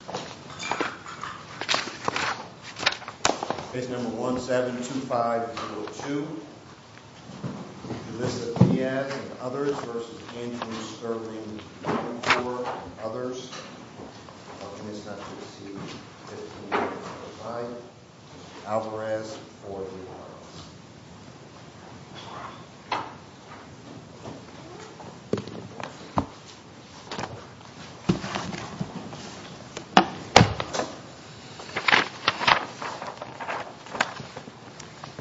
v. Andrew Longcore v. Alvarez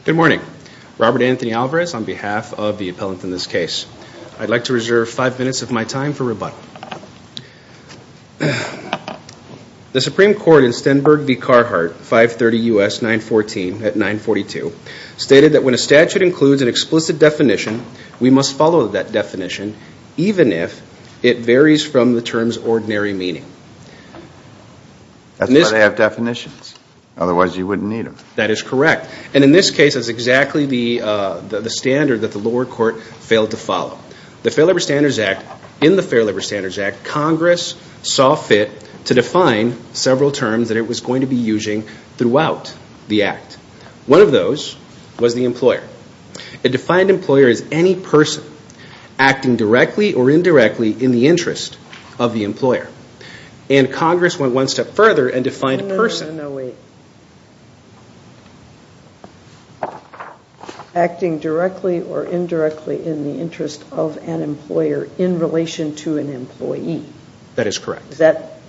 Good morning, Robert Anthony Alvarez on behalf of the appellant in this case. I'd like to reserve five minutes of my time for rebuttal. The Supreme Court in Stenberg v. Carhartt, 530 U.S. 914 at 942, stated that when a statute includes an explicit definition, we must follow that definition even if it varies from the term's ordinary meaning. That's why they have definitions, otherwise you wouldn't need them. That is correct. And in this case, that's exactly the standard that the lower court failed to follow. In the Fair Labor Standards Act, Congress saw fit to define several terms that it was going to be using throughout the act. One of those was the employer. It defined employer as any person acting directly or indirectly in the interest of the employer. And Congress went one step further and defined person. No, no, wait. Acting directly or indirectly in the interest of an employer in relation to an employee. That is correct. That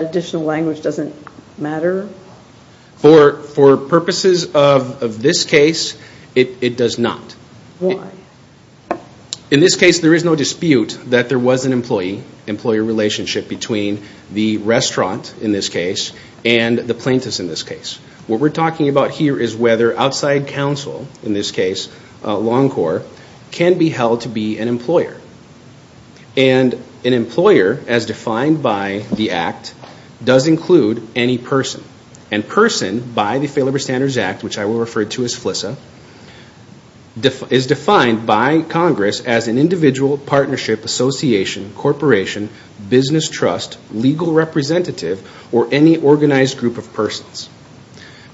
additional language doesn't matter? For purposes of this case, it does not. Why? In this case, there is no dispute that there was an employee-employer relationship between the restaurant, in this case, and the plaintiffs, in this case. What we're talking about here is whether outside counsel, in this case Longcore, can be held to be an employer. And an employer, as defined by the act, does include any person. And person, by the Fair Labor Standards Act, which I will refer to as FLISA, is defined by Congress as an individual, partnership, association, corporation, business trust, legal representative, or any organized group of persons.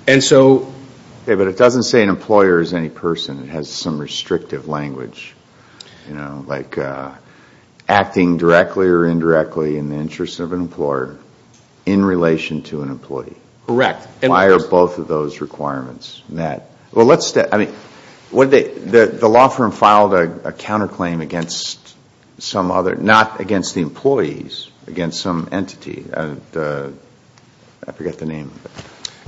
But it doesn't say an employer is any person. It has some restrictive language. Like acting directly or indirectly in the interest of an employer in relation to an employee. Correct. Why are both of those requirements met? The law firm filed a counterclaim against some other, not against the employees, against some entity, I forget the name of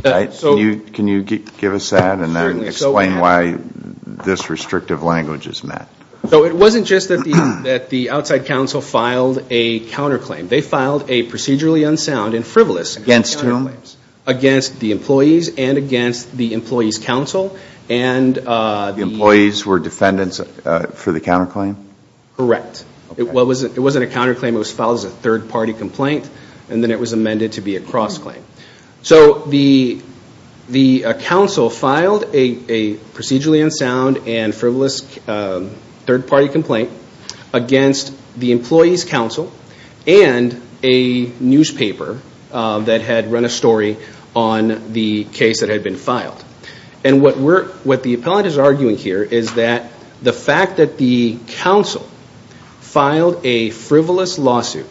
it. Can you give us that and then explain why this restrictive language is met? It wasn't just that the outside counsel filed a counterclaim. They filed a procedurally unsound and frivolous counterclaim against the employees and against the employees' counsel. The employees were defendants for the counterclaim? Correct. It wasn't a counterclaim. It was filed as a third-party complaint. And then it was amended to be a cross-claim. So the counsel filed a procedurally unsound and frivolous third-party complaint against the employees' counsel and a newspaper that had run a story on the case that had been filed. And what the appellant is arguing here is that the fact that the counsel filed a frivolous lawsuit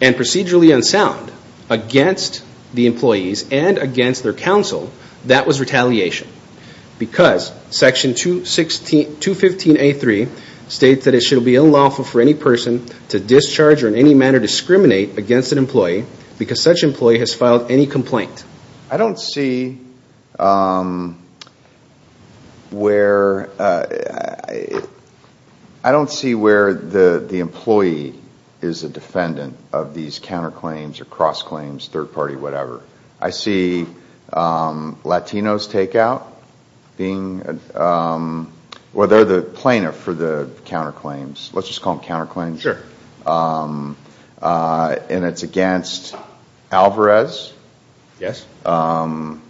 and procedurally unsound against the employees and against their counsel, that was retaliation because Section 215A3 states that it should be unlawful for any person to discharge or in any manner discriminate against an employee because such employee has filed any complaint. I don't see where the employee is a defendant of these counterclaims or cross-claims, third-party, whatever. I see Latinos take out, well, they're the plaintiff for the counterclaims. Let's just call them counterclaims. Sure. And it's against Alvarez? Yes. And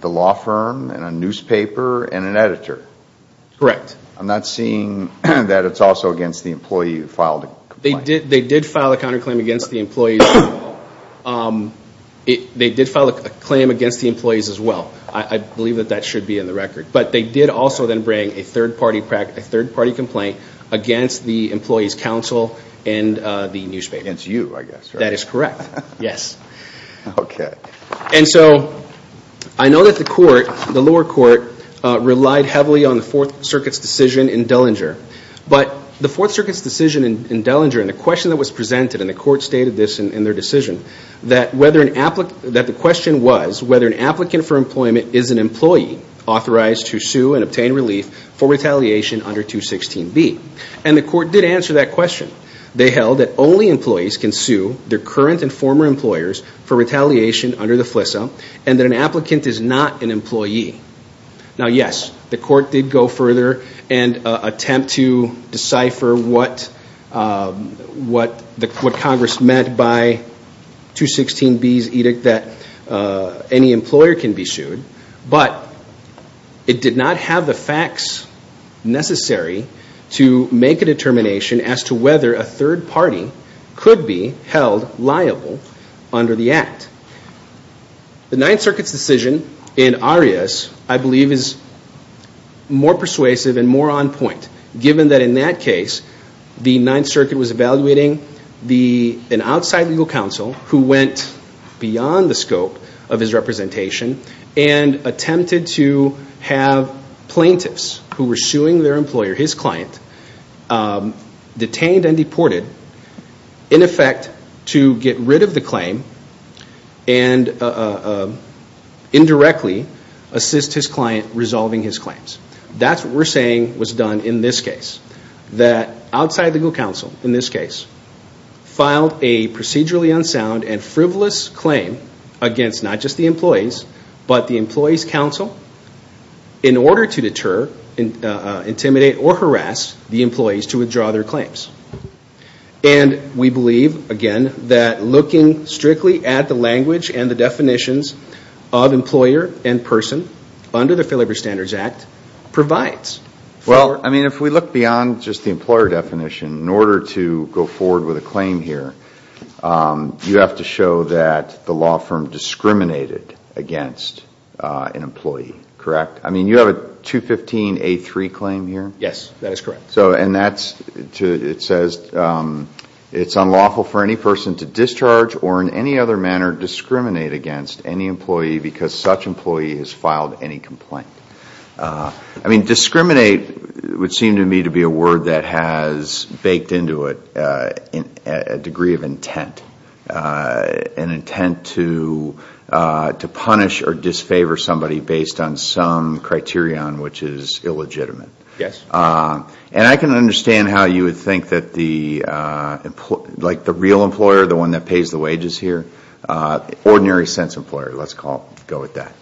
the law firm and a newspaper and an editor? Correct. I'm not seeing that it's also against the employee who filed the complaint. They did file a counterclaim against the employees as well. I believe that that should be in the record. But they did also then bring a third-party complaint against the employees' counsel and the newspaper. Against you, I guess. That is correct, yes. Okay. And so I know that the lower court relied heavily on the Fourth Circuit's decision in Dellinger. But the Fourth Circuit's decision in Dellinger and the question that was presented, and the court stated this in their decision, that the question was whether an applicant for employment is an employee authorized to sue and obtain relief for retaliation under 216B. And the court did answer that question. They held that only employees can sue their current and former employers for retaliation under the FLISA and that an applicant is not an employee. Now, yes, the court did go further and attempt to decipher what Congress meant by 216B's edict that any employer can be sued. But it did not have the facts necessary to make a determination as to whether a third party could be held liable under the Act. The Ninth Circuit's decision in Arias, I believe, is more persuasive and more on point, given that in that case, the Ninth Circuit was evaluating an outside legal counsel who went beyond the scope of his representation and attempted to have plaintiffs who were suing their employer, his client, detained and deported in effect to get rid of the claim and indirectly assist his client resolving his claims. That's what we're saying was done in this case. that outside legal counsel, in this case, filed a procedurally unsound and frivolous claim against not just the employees, but the employees' counsel, in order to deter, intimidate or harass the employees to withdraw their claims. And we believe, again, that looking strictly at the language and the definitions of employer and person under the Fair Labor Standards Act provides. Well, I mean, if we look beyond just the employer definition, in order to go forward with a claim here, you have to show that the law firm discriminated against an employee, correct? I mean, you have a 215A3 claim here? Yes, that is correct. And it says it's unlawful for any person to discharge or in any other manner discriminate against any employee because such employee has filed any complaint. I mean, discriminate would seem to me to be a word that has baked into it a degree of intent, an intent to punish or disfavor somebody based on some criterion which is illegitimate. Yes. And I can understand how you would think that the real employer, the one that pays the wages here, ordinary sense employer, let's go with that,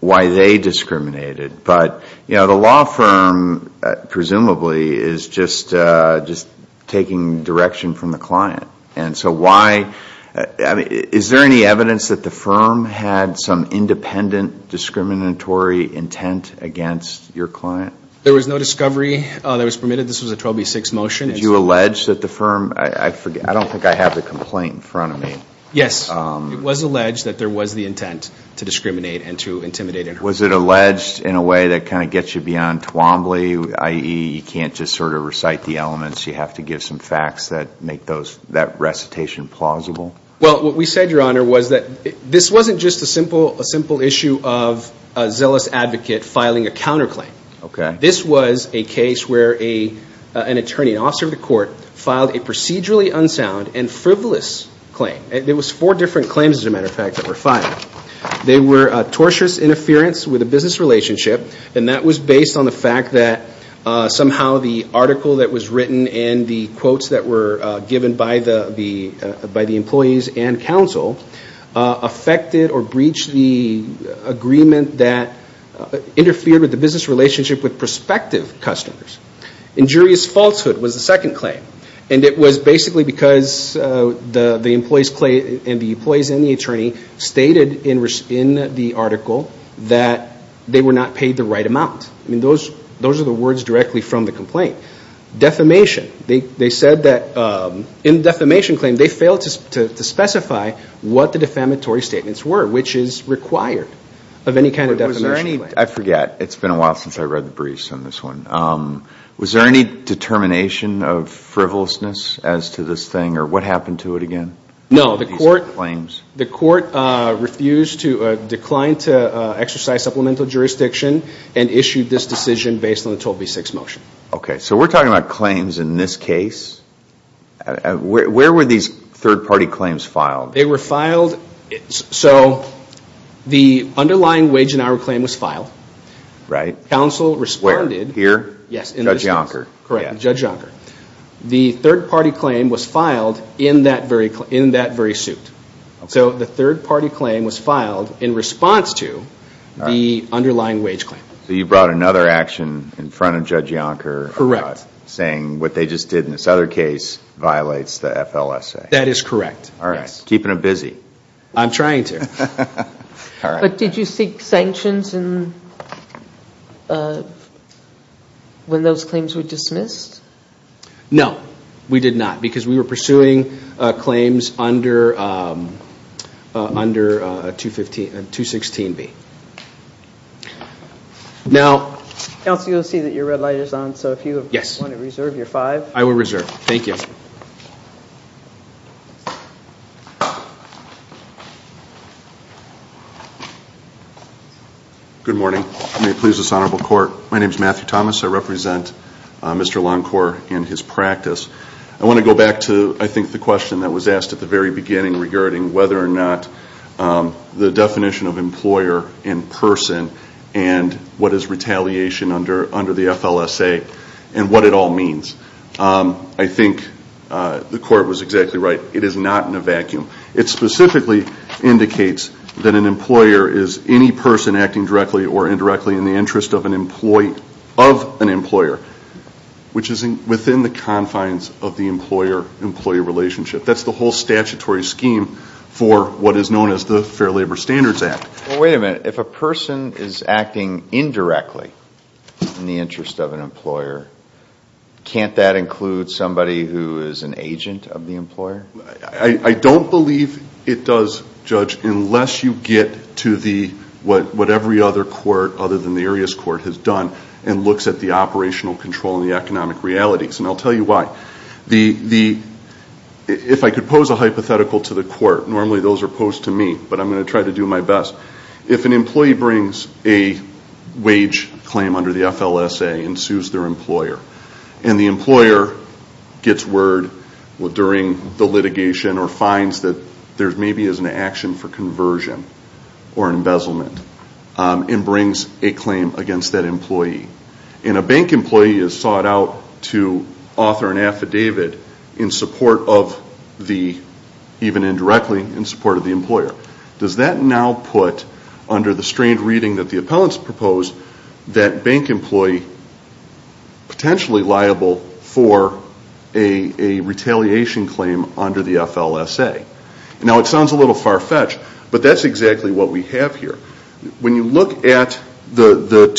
why they discriminated. But, you know, the law firm presumably is just taking direction from the client. And so why, I mean, is there any evidence that the firm had some independent discriminatory intent against your client? There was no discovery that was permitted. This was a 12B6 motion. Did you allege that the firm, I forget, I don't think I have the complaint in front of me. Yes. It was alleged that there was the intent to discriminate and to intimidate. Was it alleged in a way that kind of gets you beyond Twombly, i.e., you can't just sort of recite the elements, you have to give some facts that make that recitation plausible? Well, what we said, Your Honor, was that this wasn't just a simple issue of a zealous advocate filing a counterclaim. Okay. This was a case where an attorney, an officer of the court, filed a procedurally unsound and frivolous claim. There was four different claims, as a matter of fact, that were filed. They were tortious interference with a business relationship, and that was based on the fact that somehow the article that was written and the quotes that were given by the employees and counsel affected or breached the agreement that interfered with the business relationship with prospective customers. Injurious falsehood was the second claim, and it was basically because the employees and the attorney stated in the article that they were not paid the right amount. Those are the words directly from the complaint. Defamation. They said that in the defamation claim they failed to specify what the defamatory statements were, which is required of any kind of defamation claim. I forget. It's been a while since I read the briefs on this one. Was there any determination of frivolousness as to this thing, or what happened to it again? No. The court refused to decline to exercise supplemental jurisdiction and issued this decision based on the 12B6 motion. Okay. So we're talking about claims in this case. Where were these third-party claims filed? They were filed. So the underlying wage and hour claim was filed. Right. Counsel responded. Where? Here? Yes. Judge Yonker. Correct. Judge Yonker. The third-party claim was filed in that very suit. So the third-party claim was filed in response to the underlying wage claim. So you brought another action in front of Judge Yonker. Correct. Saying what they just did in this other case violates the FLSA. That is correct. All right. Keeping them busy. I'm trying to. All right. But did you seek sanctions when those claims were dismissed? No, we did not. Because we were pursuing claims under 216B. Now. Counsel, you'll see that your red light is on. So if you want to reserve your five. I will reserve. Thank you. Good morning. May it please this Honorable Court. My name is Matthew Thomas. I represent Mr. Lancourt and his practice. I want to go back to I think the question that was asked at the very beginning regarding whether or not the definition of employer in person and what is retaliation under the FLSA and what it all means. I think the Court was exactly right. It is not in a vacuum. It specifically indicates that an employer is any person acting directly or indirectly in the interest of an employer, which is within the confines of the employer-employee relationship. That's the whole statutory scheme for what is known as the Fair Labor Standards Act. Wait a minute. If a person is acting indirectly in the interest of an employer, can't that include somebody who is an agent of the employer? I don't believe it does, Judge, unless you get to what every other court other than the Arias Court has done and looks at the operational control and the economic realities, and I'll tell you why. If I could pose a hypothetical to the Court, normally those are posed to me, but I'm going to try to do my best. If an employee brings a wage claim under the FLSA and sues their employer and the employer gets word during the litigation or finds that there maybe is an action for conversion or embezzlement and brings a claim against that employee, and a bank employee is sought out to author an affidavit in support of the, even indirectly, in support of the employer, does that now put, under the strained reading that the appellants proposed, that bank employee potentially liable for a retaliation claim under the FLSA? Now it sounds a little far-fetched, but that's exactly what we have here. When you look at the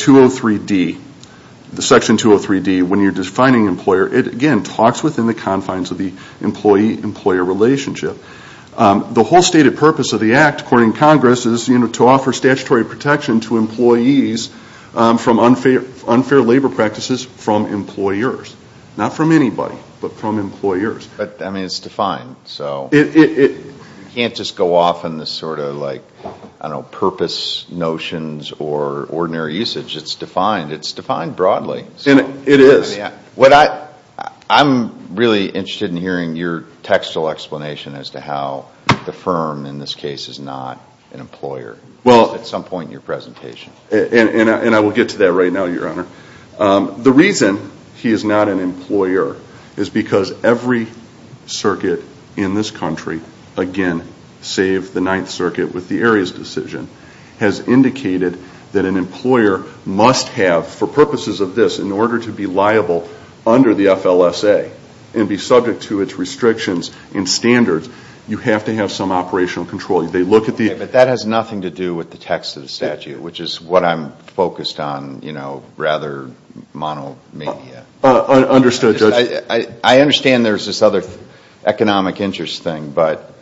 Section 203D, when you're defining employer, it again talks within the confines of the employee-employer relationship. The whole stated purpose of the Act, according to Congress, is to offer statutory protection to employees from unfair labor practices from employers. Not from anybody, but from employers. But, I mean, it's defined. You can't just go off on this sort of, I don't know, purpose notions or ordinary usage. It's defined. It's defined broadly. It is. I'm really interested in hearing your textual explanation as to how the firm, in this case, is not an employer. At some point in your presentation. And I will get to that right now, Your Honor. The reason he is not an employer is because every circuit in this country, again, save the Ninth Circuit with the Arias decision, has indicated that an employer must have, for purposes of this, in order to be liable under the FLSA and be subject to its restrictions and standards, you have to have some operational control. They look at the... But that has nothing to do with the text of the statute, which is what I'm focused on, you know, rather monomania. Understood, Judge. I understand there's this other economic interest thing, but,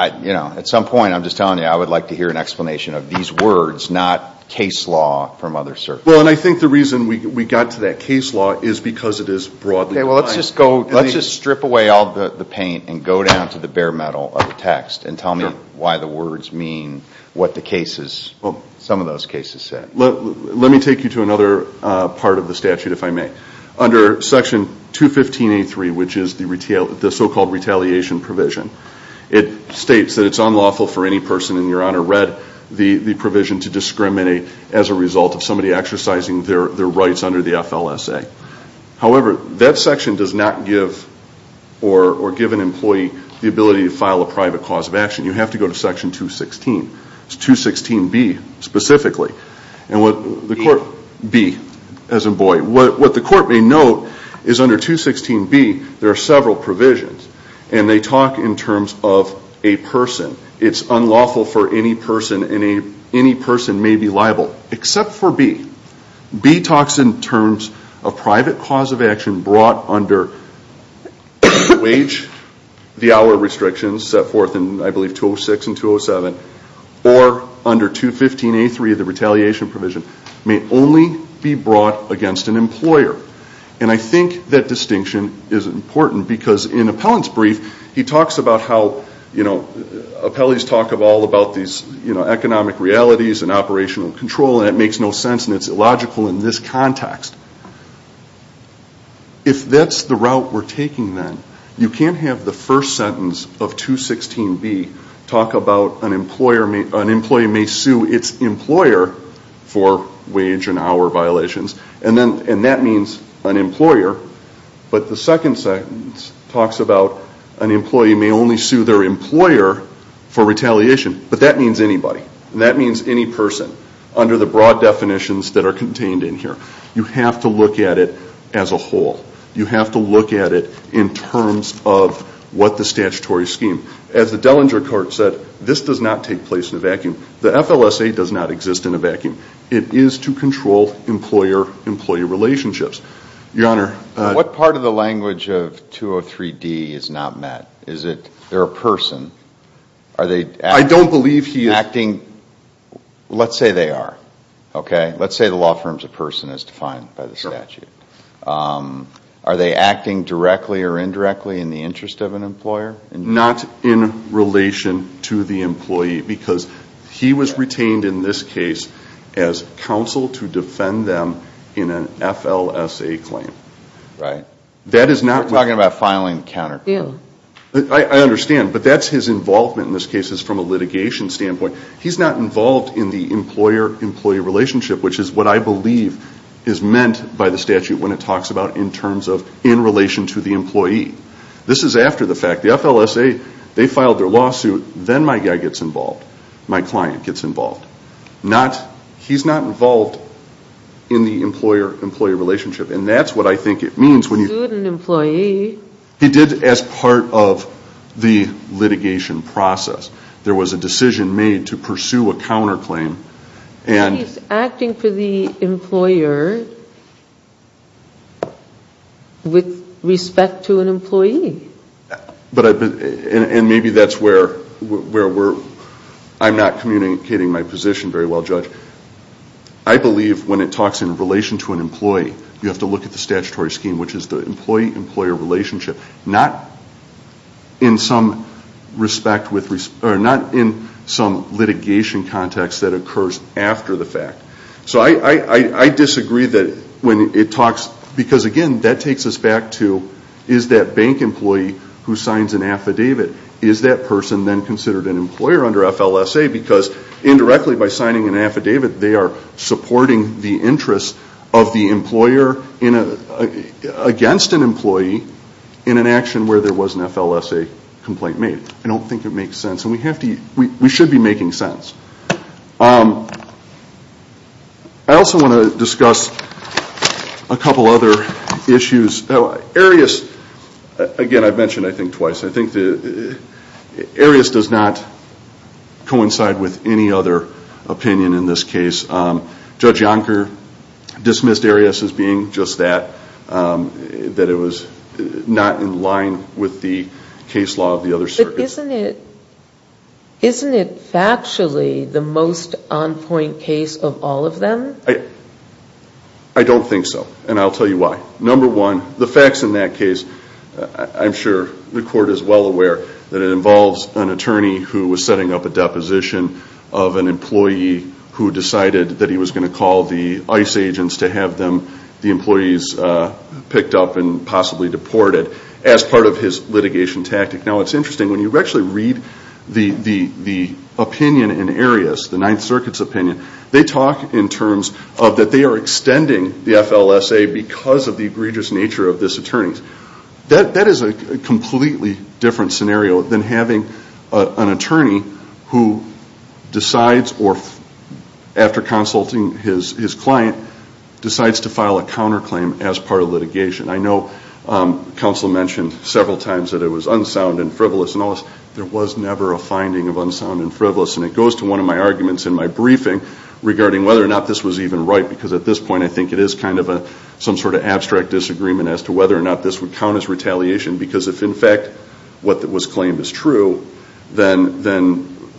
you know, at some point, I'm just telling you, I would like to hear an explanation of these words, not case law from other circuits. Well, and I think the reason we got to that case law is because it is broadly defined. Okay, well, let's just strip away all the paint and go down to the bare metal of the text and tell me why the words mean what some of those cases said. Let me take you to another part of the statute, if I may. Under Section 215.83, which is the so-called retaliation provision, it states that it's unlawful for any person, in your honor, read the provision to discriminate as a result of somebody exercising their rights under the FLSA. However, that section does not give or give an employee the ability to file a private cause of action. You have to go to Section 216, 216B specifically. And what the court may note is under 216B, there are several provisions, and they talk in terms of a person. It's unlawful for any person, and any person may be liable, except for B. B talks in terms of private cause of action brought under wage, the hour restrictions set forth in, I believe, 206 and 207, or under 215.83, the retaliation provision, may only be brought against an employer. And I think that distinction is important because in Appellant's brief, he talks about how, you know, appellees talk all about these economic realities and operational control, and it makes no sense and it's illogical in this context. If that's the route we're taking then, you can't have the first sentence of 216B talk about an employer may sue its employer for wage and hour violations, and that means an employer. But the second sentence talks about an employee may only sue their employer for retaliation, but that means anybody. That means any person under the broad definitions that are contained in here. You have to look at it as a whole. You have to look at it in terms of what the statutory scheme. As the Dellinger Court said, this does not take place in a vacuum. The FLSA does not exist in a vacuum. It is to control employer-employee relationships. Your Honor. What part of the language of 203D is not met? Is it they're a person? I don't believe he is. Let's say they are, okay? Let's say the law firm is a person as defined by the statute. Are they acting directly or indirectly in the interest of an employer? Not in relation to the employee because he was retained in this case as counsel to defend them in an FLSA claim. Right. We're talking about filing the counterclaim. I understand, but that's his involvement in this case is from a litigation standpoint. He's not involved in the employer-employee relationship, which is what I believe is meant by the statute when it talks about in terms of in relation to the employee. This is after the fact. The FLSA, they filed their lawsuit. Then my guy gets involved. My client gets involved. He's not involved in the employer-employee relationship, and that's what I think it means. He sued an employee. He did as part of the litigation process. There was a decision made to pursue a counterclaim. He's acting for the employer with respect to an employee. And maybe that's where we're – I'm not communicating my position very well, Judge. But I believe when it talks in relation to an employee, you have to look at the statutory scheme, which is the employee-employer relationship, not in some litigation context that occurs after the fact. So I disagree that when it talks – because, again, that takes us back to is that bank employee who signs an affidavit, is that person then considered an employer under FLSA? Because indirectly by signing an affidavit, they are supporting the interests of the employer against an employee in an action where there was an FLSA complaint made. I don't think it makes sense, and we have to – we should be making sense. I also want to discuss a couple other issues. Arias – again, I've mentioned, I think, twice. I think that Arias does not coincide with any other opinion in this case. Judge Yonker dismissed Arias as being just that, that it was not in line with the case law of the other circuit. But isn't it – isn't it factually the most on-point case of all of them? I don't think so, and I'll tell you why. Number one, the facts in that case – I'm sure the court is well aware that it involves an attorney who was setting up a deposition of an employee who decided that he was going to call the ICE agents to have them, the employees, picked up and possibly deported as part of his litigation tactic. Now, it's interesting. When you actually read the opinion in Arias, the Ninth Circuit's opinion, they talk in terms of that they are extending the FLSA because of the egregious nature of this attorney. That is a completely different scenario than having an attorney who decides or, after consulting his client, decides to file a counterclaim as part of litigation. I know counsel mentioned several times that it was unsound and frivolous. In all this, there was never a finding of unsound and frivolous, and it goes to one of my arguments in my briefing regarding whether or not this was even right because at this point I think it is kind of some sort of abstract disagreement as to whether or not this would count as retaliation because if, in fact, what was claimed is true, then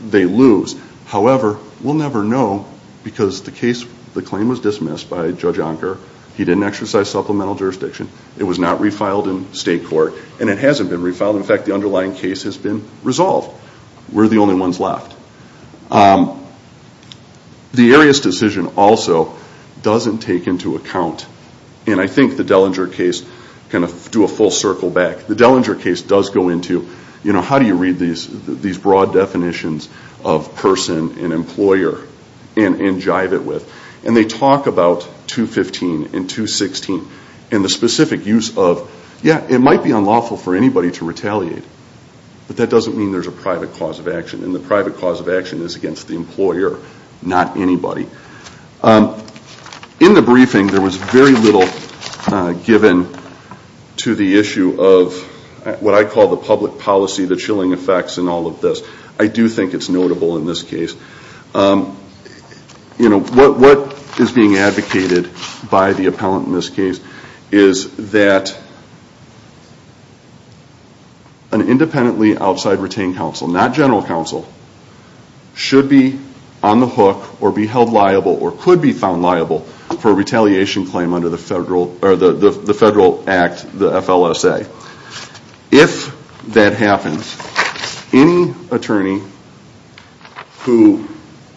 they lose. However, we'll never know because the claim was dismissed by Judge Unker. He didn't exercise supplemental jurisdiction. It was not refiled in state court, and it hasn't been refiled. In fact, the underlying case has been resolved. We're the only ones left. The Arias decision also doesn't take into account, and I think the Dellinger case, kind of do a full circle back, the Dellinger case does go into, you know, how do you read these broad definitions of person and employer and jive it with, and they talk about 215 and 216 and the specific use of, yeah, it might be unlawful for anybody to retaliate, but that doesn't mean there's a private cause of action, and the private cause of action is against the employer, not anybody. In the briefing, there was very little given to the issue of what I call the public policy, the chilling effects, and all of this. I do think it's notable in this case. You know, what is being advocated by the appellant in this case is that an independently outside retained counsel, not general counsel, should be on the hook or be held liable or could be found liable for a retaliation claim under the Federal Act, the FLSA. If that happens, any attorney who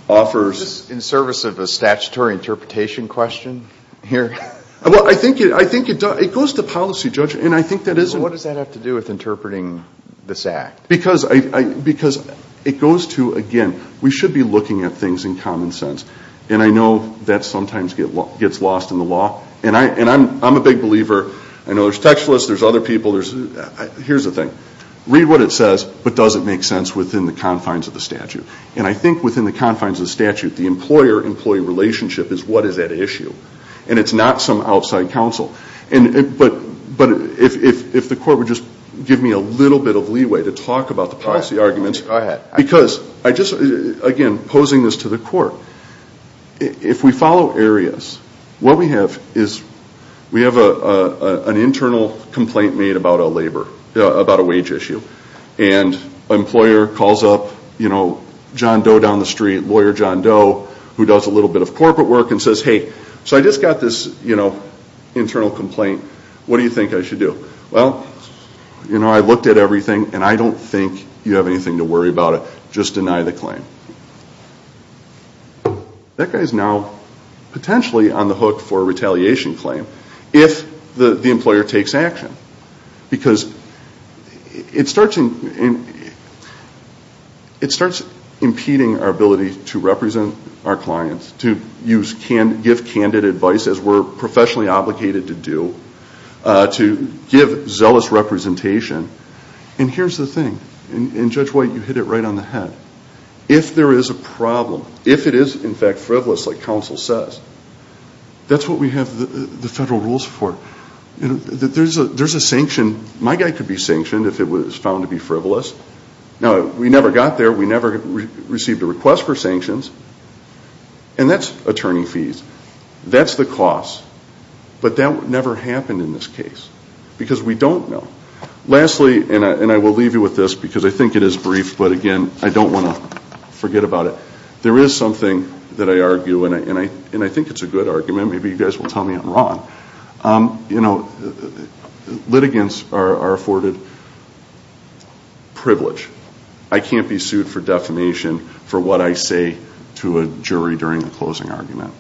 offers... Is this in service of a statutory interpretation question here? Well, I think it does. It goes to policy, Judge, and I think that is... What does that have to do with interpreting this act? Because it goes to, again, we should be looking at things in common sense, and I know that sometimes gets lost in the law, and I'm a big believer. I know there's text lists, there's other people. Here's the thing. Read what it says, but does it make sense within the confines of the statute? And I think within the confines of the statute, the employer-employee relationship is what is at issue, and it's not some outside counsel. But if the court would just give me a little bit of leeway to talk about the policy arguments... Go ahead. Because, again, posing this to the court, if we follow areas, what we have is we have an internal complaint made about a wage issue, and an employer calls up John Doe down the street, lawyer John Doe, who does a little bit of corporate work, and says, Hey, so I just got this internal complaint. What do you think I should do? Well, I looked at everything, and I don't think you have anything to worry about. Just deny the claim. That guy is now potentially on the hook for a retaliation claim, if the employer takes action, because it starts impeding our ability to represent our clients, to give candid advice, as we're professionally obligated to do, to give zealous representation. And here's the thing, and Judge White, you hit it right on the head. If there is a problem, if it is, in fact, frivolous, like counsel says, that's what we have the federal rules for. There's a sanction. My guy could be sanctioned if it was found to be frivolous. Now, we never got there. We never received a request for sanctions. And that's attorney fees. That's the cost. But that never happened in this case, because we don't know. Lastly, and I will leave you with this, because I think it is brief, but, again, I don't want to forget about it. There is something that I argue, and I think it's a good argument. Maybe you guys will tell me I'm wrong. You know, litigants are afforded privilege. I can't be sued for defamation for what I say to a jury during a closing argument.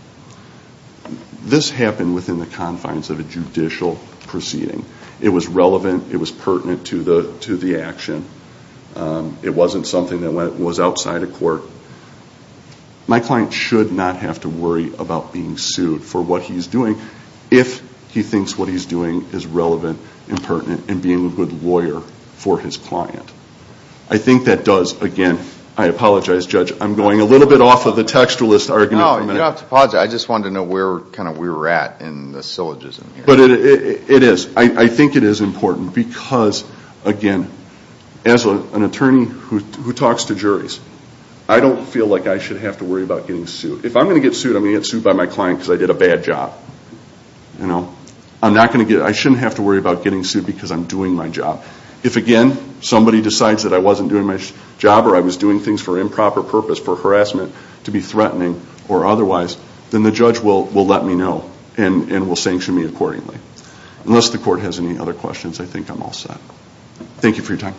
This happened within the confines of a judicial proceeding. It was relevant. It was pertinent to the action. It wasn't something that was outside of court. My client should not have to worry about being sued for what he's doing if he thinks what he's doing is relevant and pertinent and being a good lawyer for his client. I think that does, again, I apologize, Judge, I'm going a little bit off of the textualist argument for a minute. No, you don't have to apologize. I just wanted to know where we were at in the syllogism here. But it is. I think it is important because, again, as an attorney who talks to juries, I don't feel like I should have to worry about getting sued. If I'm going to get sued, I'm going to get sued by my client because I did a bad job. I shouldn't have to worry about getting sued because I'm doing my job. If, again, somebody decides that I wasn't doing my job or I was doing things for improper purpose, for harassment, to be threatening or otherwise, then the judge will let me know and will sanction me accordingly. Unless the court has any other questions, I think I'm all set. Thank you for your time.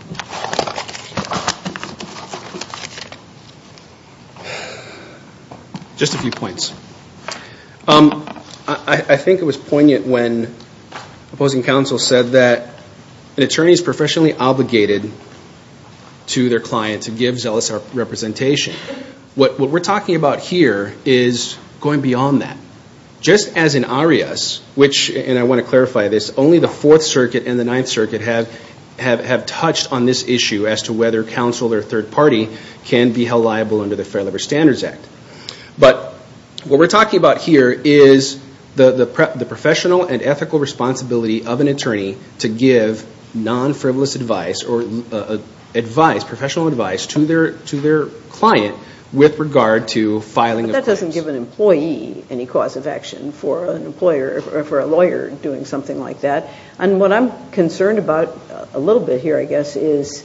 Just a few points. I think it was poignant when opposing counsel said that an attorney is professionally obligated to their client to give zealous representation. What we're talking about here is going beyond that. Just as in Arias, which, and I want to clarify this, only the Fourth Circuit and the Ninth Circuit have touched on this issue as to whether counsel or third party can be held liable under the Fair Labor Standards Act. But what we're talking about here is the professional and ethical responsibility of an attorney to give non-frivolous advice or professional advice to their client with regard to filing a case. But that doesn't give an employee any cause of action for a lawyer doing something like that. And what I'm concerned about a little bit here, I guess, is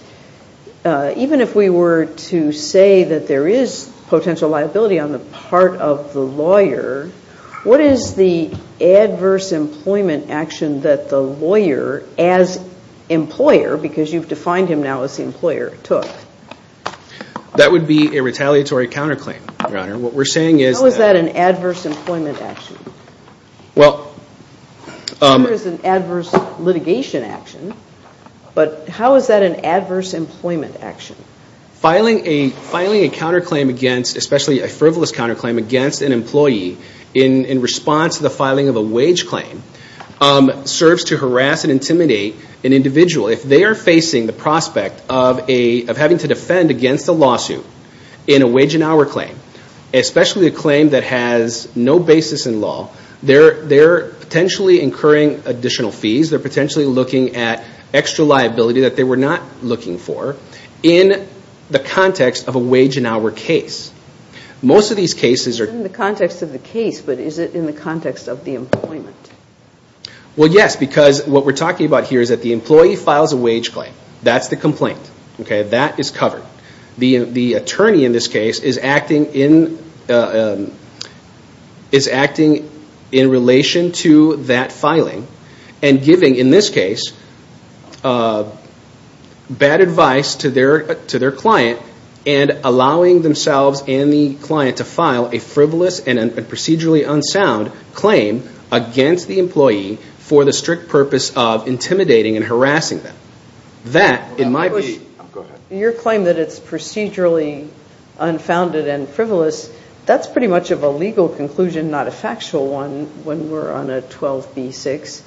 even if we were to say that there is potential liability on the part of the lawyer, what is the adverse employment action that the lawyer as employer, because you've defined him now as the employer, took? That would be a retaliatory counterclaim, Your Honor. What we're saying is that... How is that an adverse employment action? Well... I'm sure it's an adverse litigation action, but how is that an adverse employment action? Filing a counterclaim against, especially a frivolous counterclaim against an employee in response to the filing of a wage claim serves to harass and intimidate an individual. If they are facing the prospect of having to defend against a lawsuit in a wage and hour claim, especially a claim that has no basis in law, they're potentially incurring additional fees. They're potentially looking at extra liability that they were not looking for in the context of a wage and hour case. Most of these cases are... It's not in the context of the case, but is it in the context of the employment? Well, yes, because what we're talking about here is that the employee files a wage claim. That's the complaint. That is covered. The attorney, in this case, is acting in relation to that filing and giving, in this case, bad advice to their client and allowing themselves and the client to file a frivolous and procedurally unsound claim against the employee for the strict purpose of intimidating and harassing them. That, in my view... Go ahead. Your claim that it's procedurally unfounded and frivolous, that's pretty much of a legal conclusion, not a factual one when we're on a 12b-6,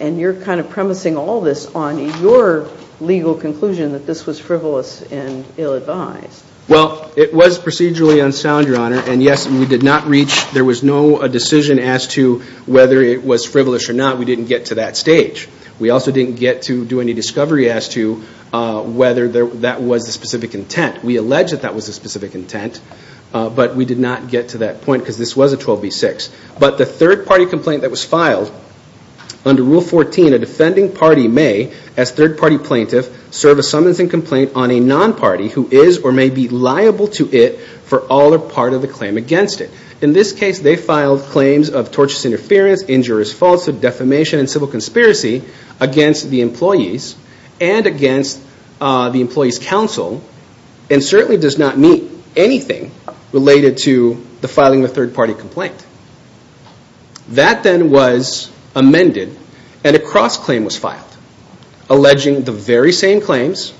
and you're kind of premising all this on your legal conclusion that this was frivolous and ill-advised. Well, it was procedurally unsound, Your Honor, and yes, we did not reach... There was no decision as to whether it was frivolous or not. We didn't get to that stage. We also didn't get to do any discovery as to whether that was the specific intent. We allege that that was the specific intent, but we did not get to that point because this was a 12b-6. But the third-party complaint that was filed under Rule 14, a defending party may, as third-party plaintiff, serve a summons and complaint on a non-party who is or may be liable to it for all or part of the claim against it. In this case, they filed claims of torturous interference, injurious falsehood, defamation, and civil conspiracy against the employees and against the employees' counsel and certainly does not meet anything related to the filing of a third-party complaint. That then was amended, and a cross-claim was filed, alleging the very same claims.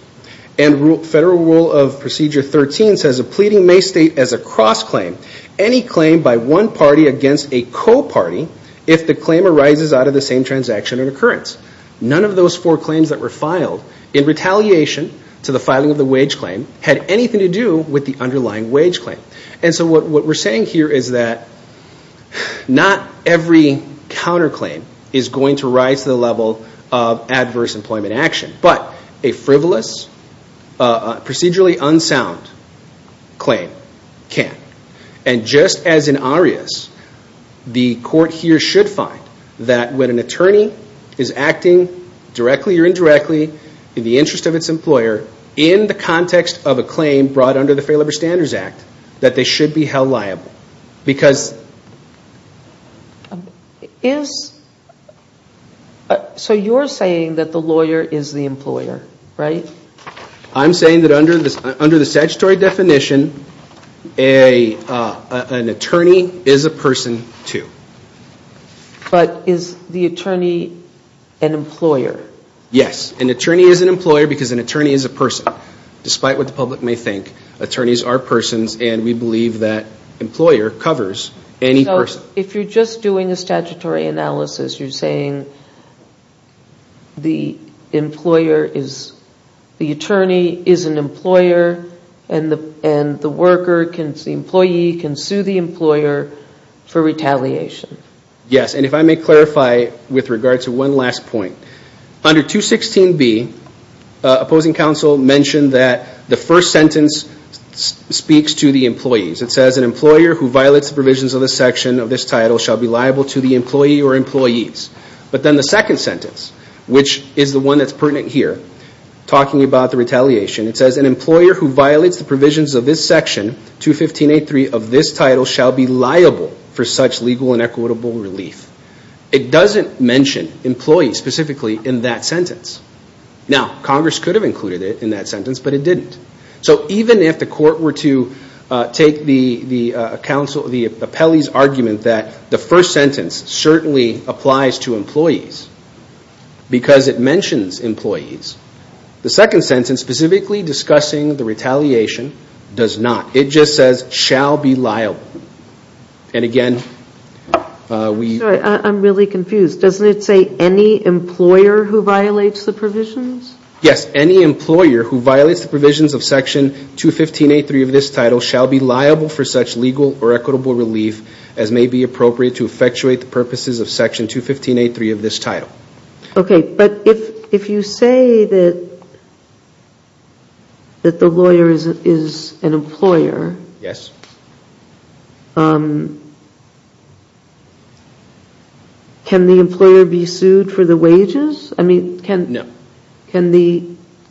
And Federal Rule of Procedure 13 says a pleading may state as a cross-claim any claim by one party against a co-party if the claim arises out of the same transaction or occurrence. None of those four claims that were filed, in retaliation to the filing of the wage claim, had anything to do with the underlying wage claim. And so what we're saying here is that not every counterclaim is going to rise to the level of adverse employment action, but a frivolous, procedurally unsound claim can. And just as in Arias, the court here should find that when an attorney is acting directly or indirectly in the interest of its employer, in the context of a claim brought under the Fair Labor Standards Act, that they should be held liable. So you're saying that the lawyer is the employer, right? I'm saying that under the statutory definition, an attorney is a person, too. But is the attorney an employer? Yes. An attorney is an employer because an attorney is a person, despite what the public may think. Attorneys are persons, and we believe that employer covers any person. So if you're just doing a statutory analysis, you're saying the attorney is an employer and the employee can sue the employer for retaliation? Yes. And if I may clarify with regard to one last point. Under 216B, opposing counsel mentioned that the first sentence speaks to the employees. It says, But then the second sentence, which is the one that's pertinent here, talking about the retaliation, it says, who violates the provisions of this section, 215A.3 of this title, shall be liable for such legal and equitable relief. It doesn't mention employees specifically in that sentence. Now, Congress could have included it in that sentence, but it didn't. So even if the court were to take the appellee's argument that the first sentence certainly applies to employees because it mentions employees, the second sentence, specifically discussing the retaliation, does not. It just says, And again, we... Sorry, I'm really confused. Doesn't it say any employer who violates the provisions? Yes. Okay, but if you say that the lawyer is an employer... Yes. Can the employer be sued for the wages? I mean, can... No. Can the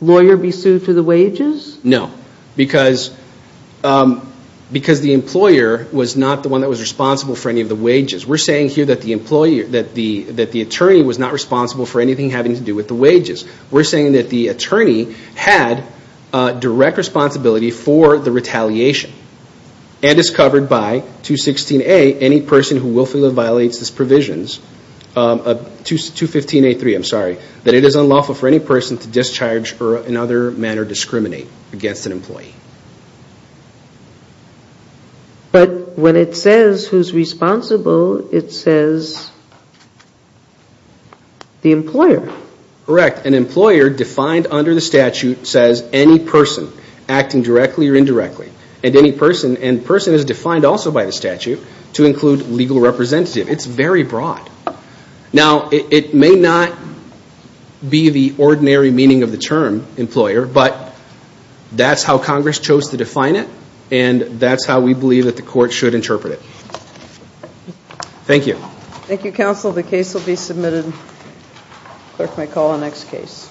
lawyer be sued for the wages? No. Because the employer was not the one that was responsible for any of the wages. We're saying here that the attorney was not responsible for anything having to do with the wages. We're saying that the attorney had direct responsibility for the retaliation and is covered by 216A, any person who willfully violates these provisions, 215A3, I'm sorry, that it is unlawful for any person to discharge or in other manner discriminate against an employee. But when it says who's responsible, it says the employer. Correct. An employer defined under the statute says any person acting directly or indirectly and any person, and person is defined also by the statute, to include legal representative. It's very broad. Now, it may not be the ordinary meaning of the term employer, but that's how Congress chose to define it, and that's how we believe that the court should interpret it. Thank you. Thank you, counsel. The case will be submitted. Clerk may call the next case.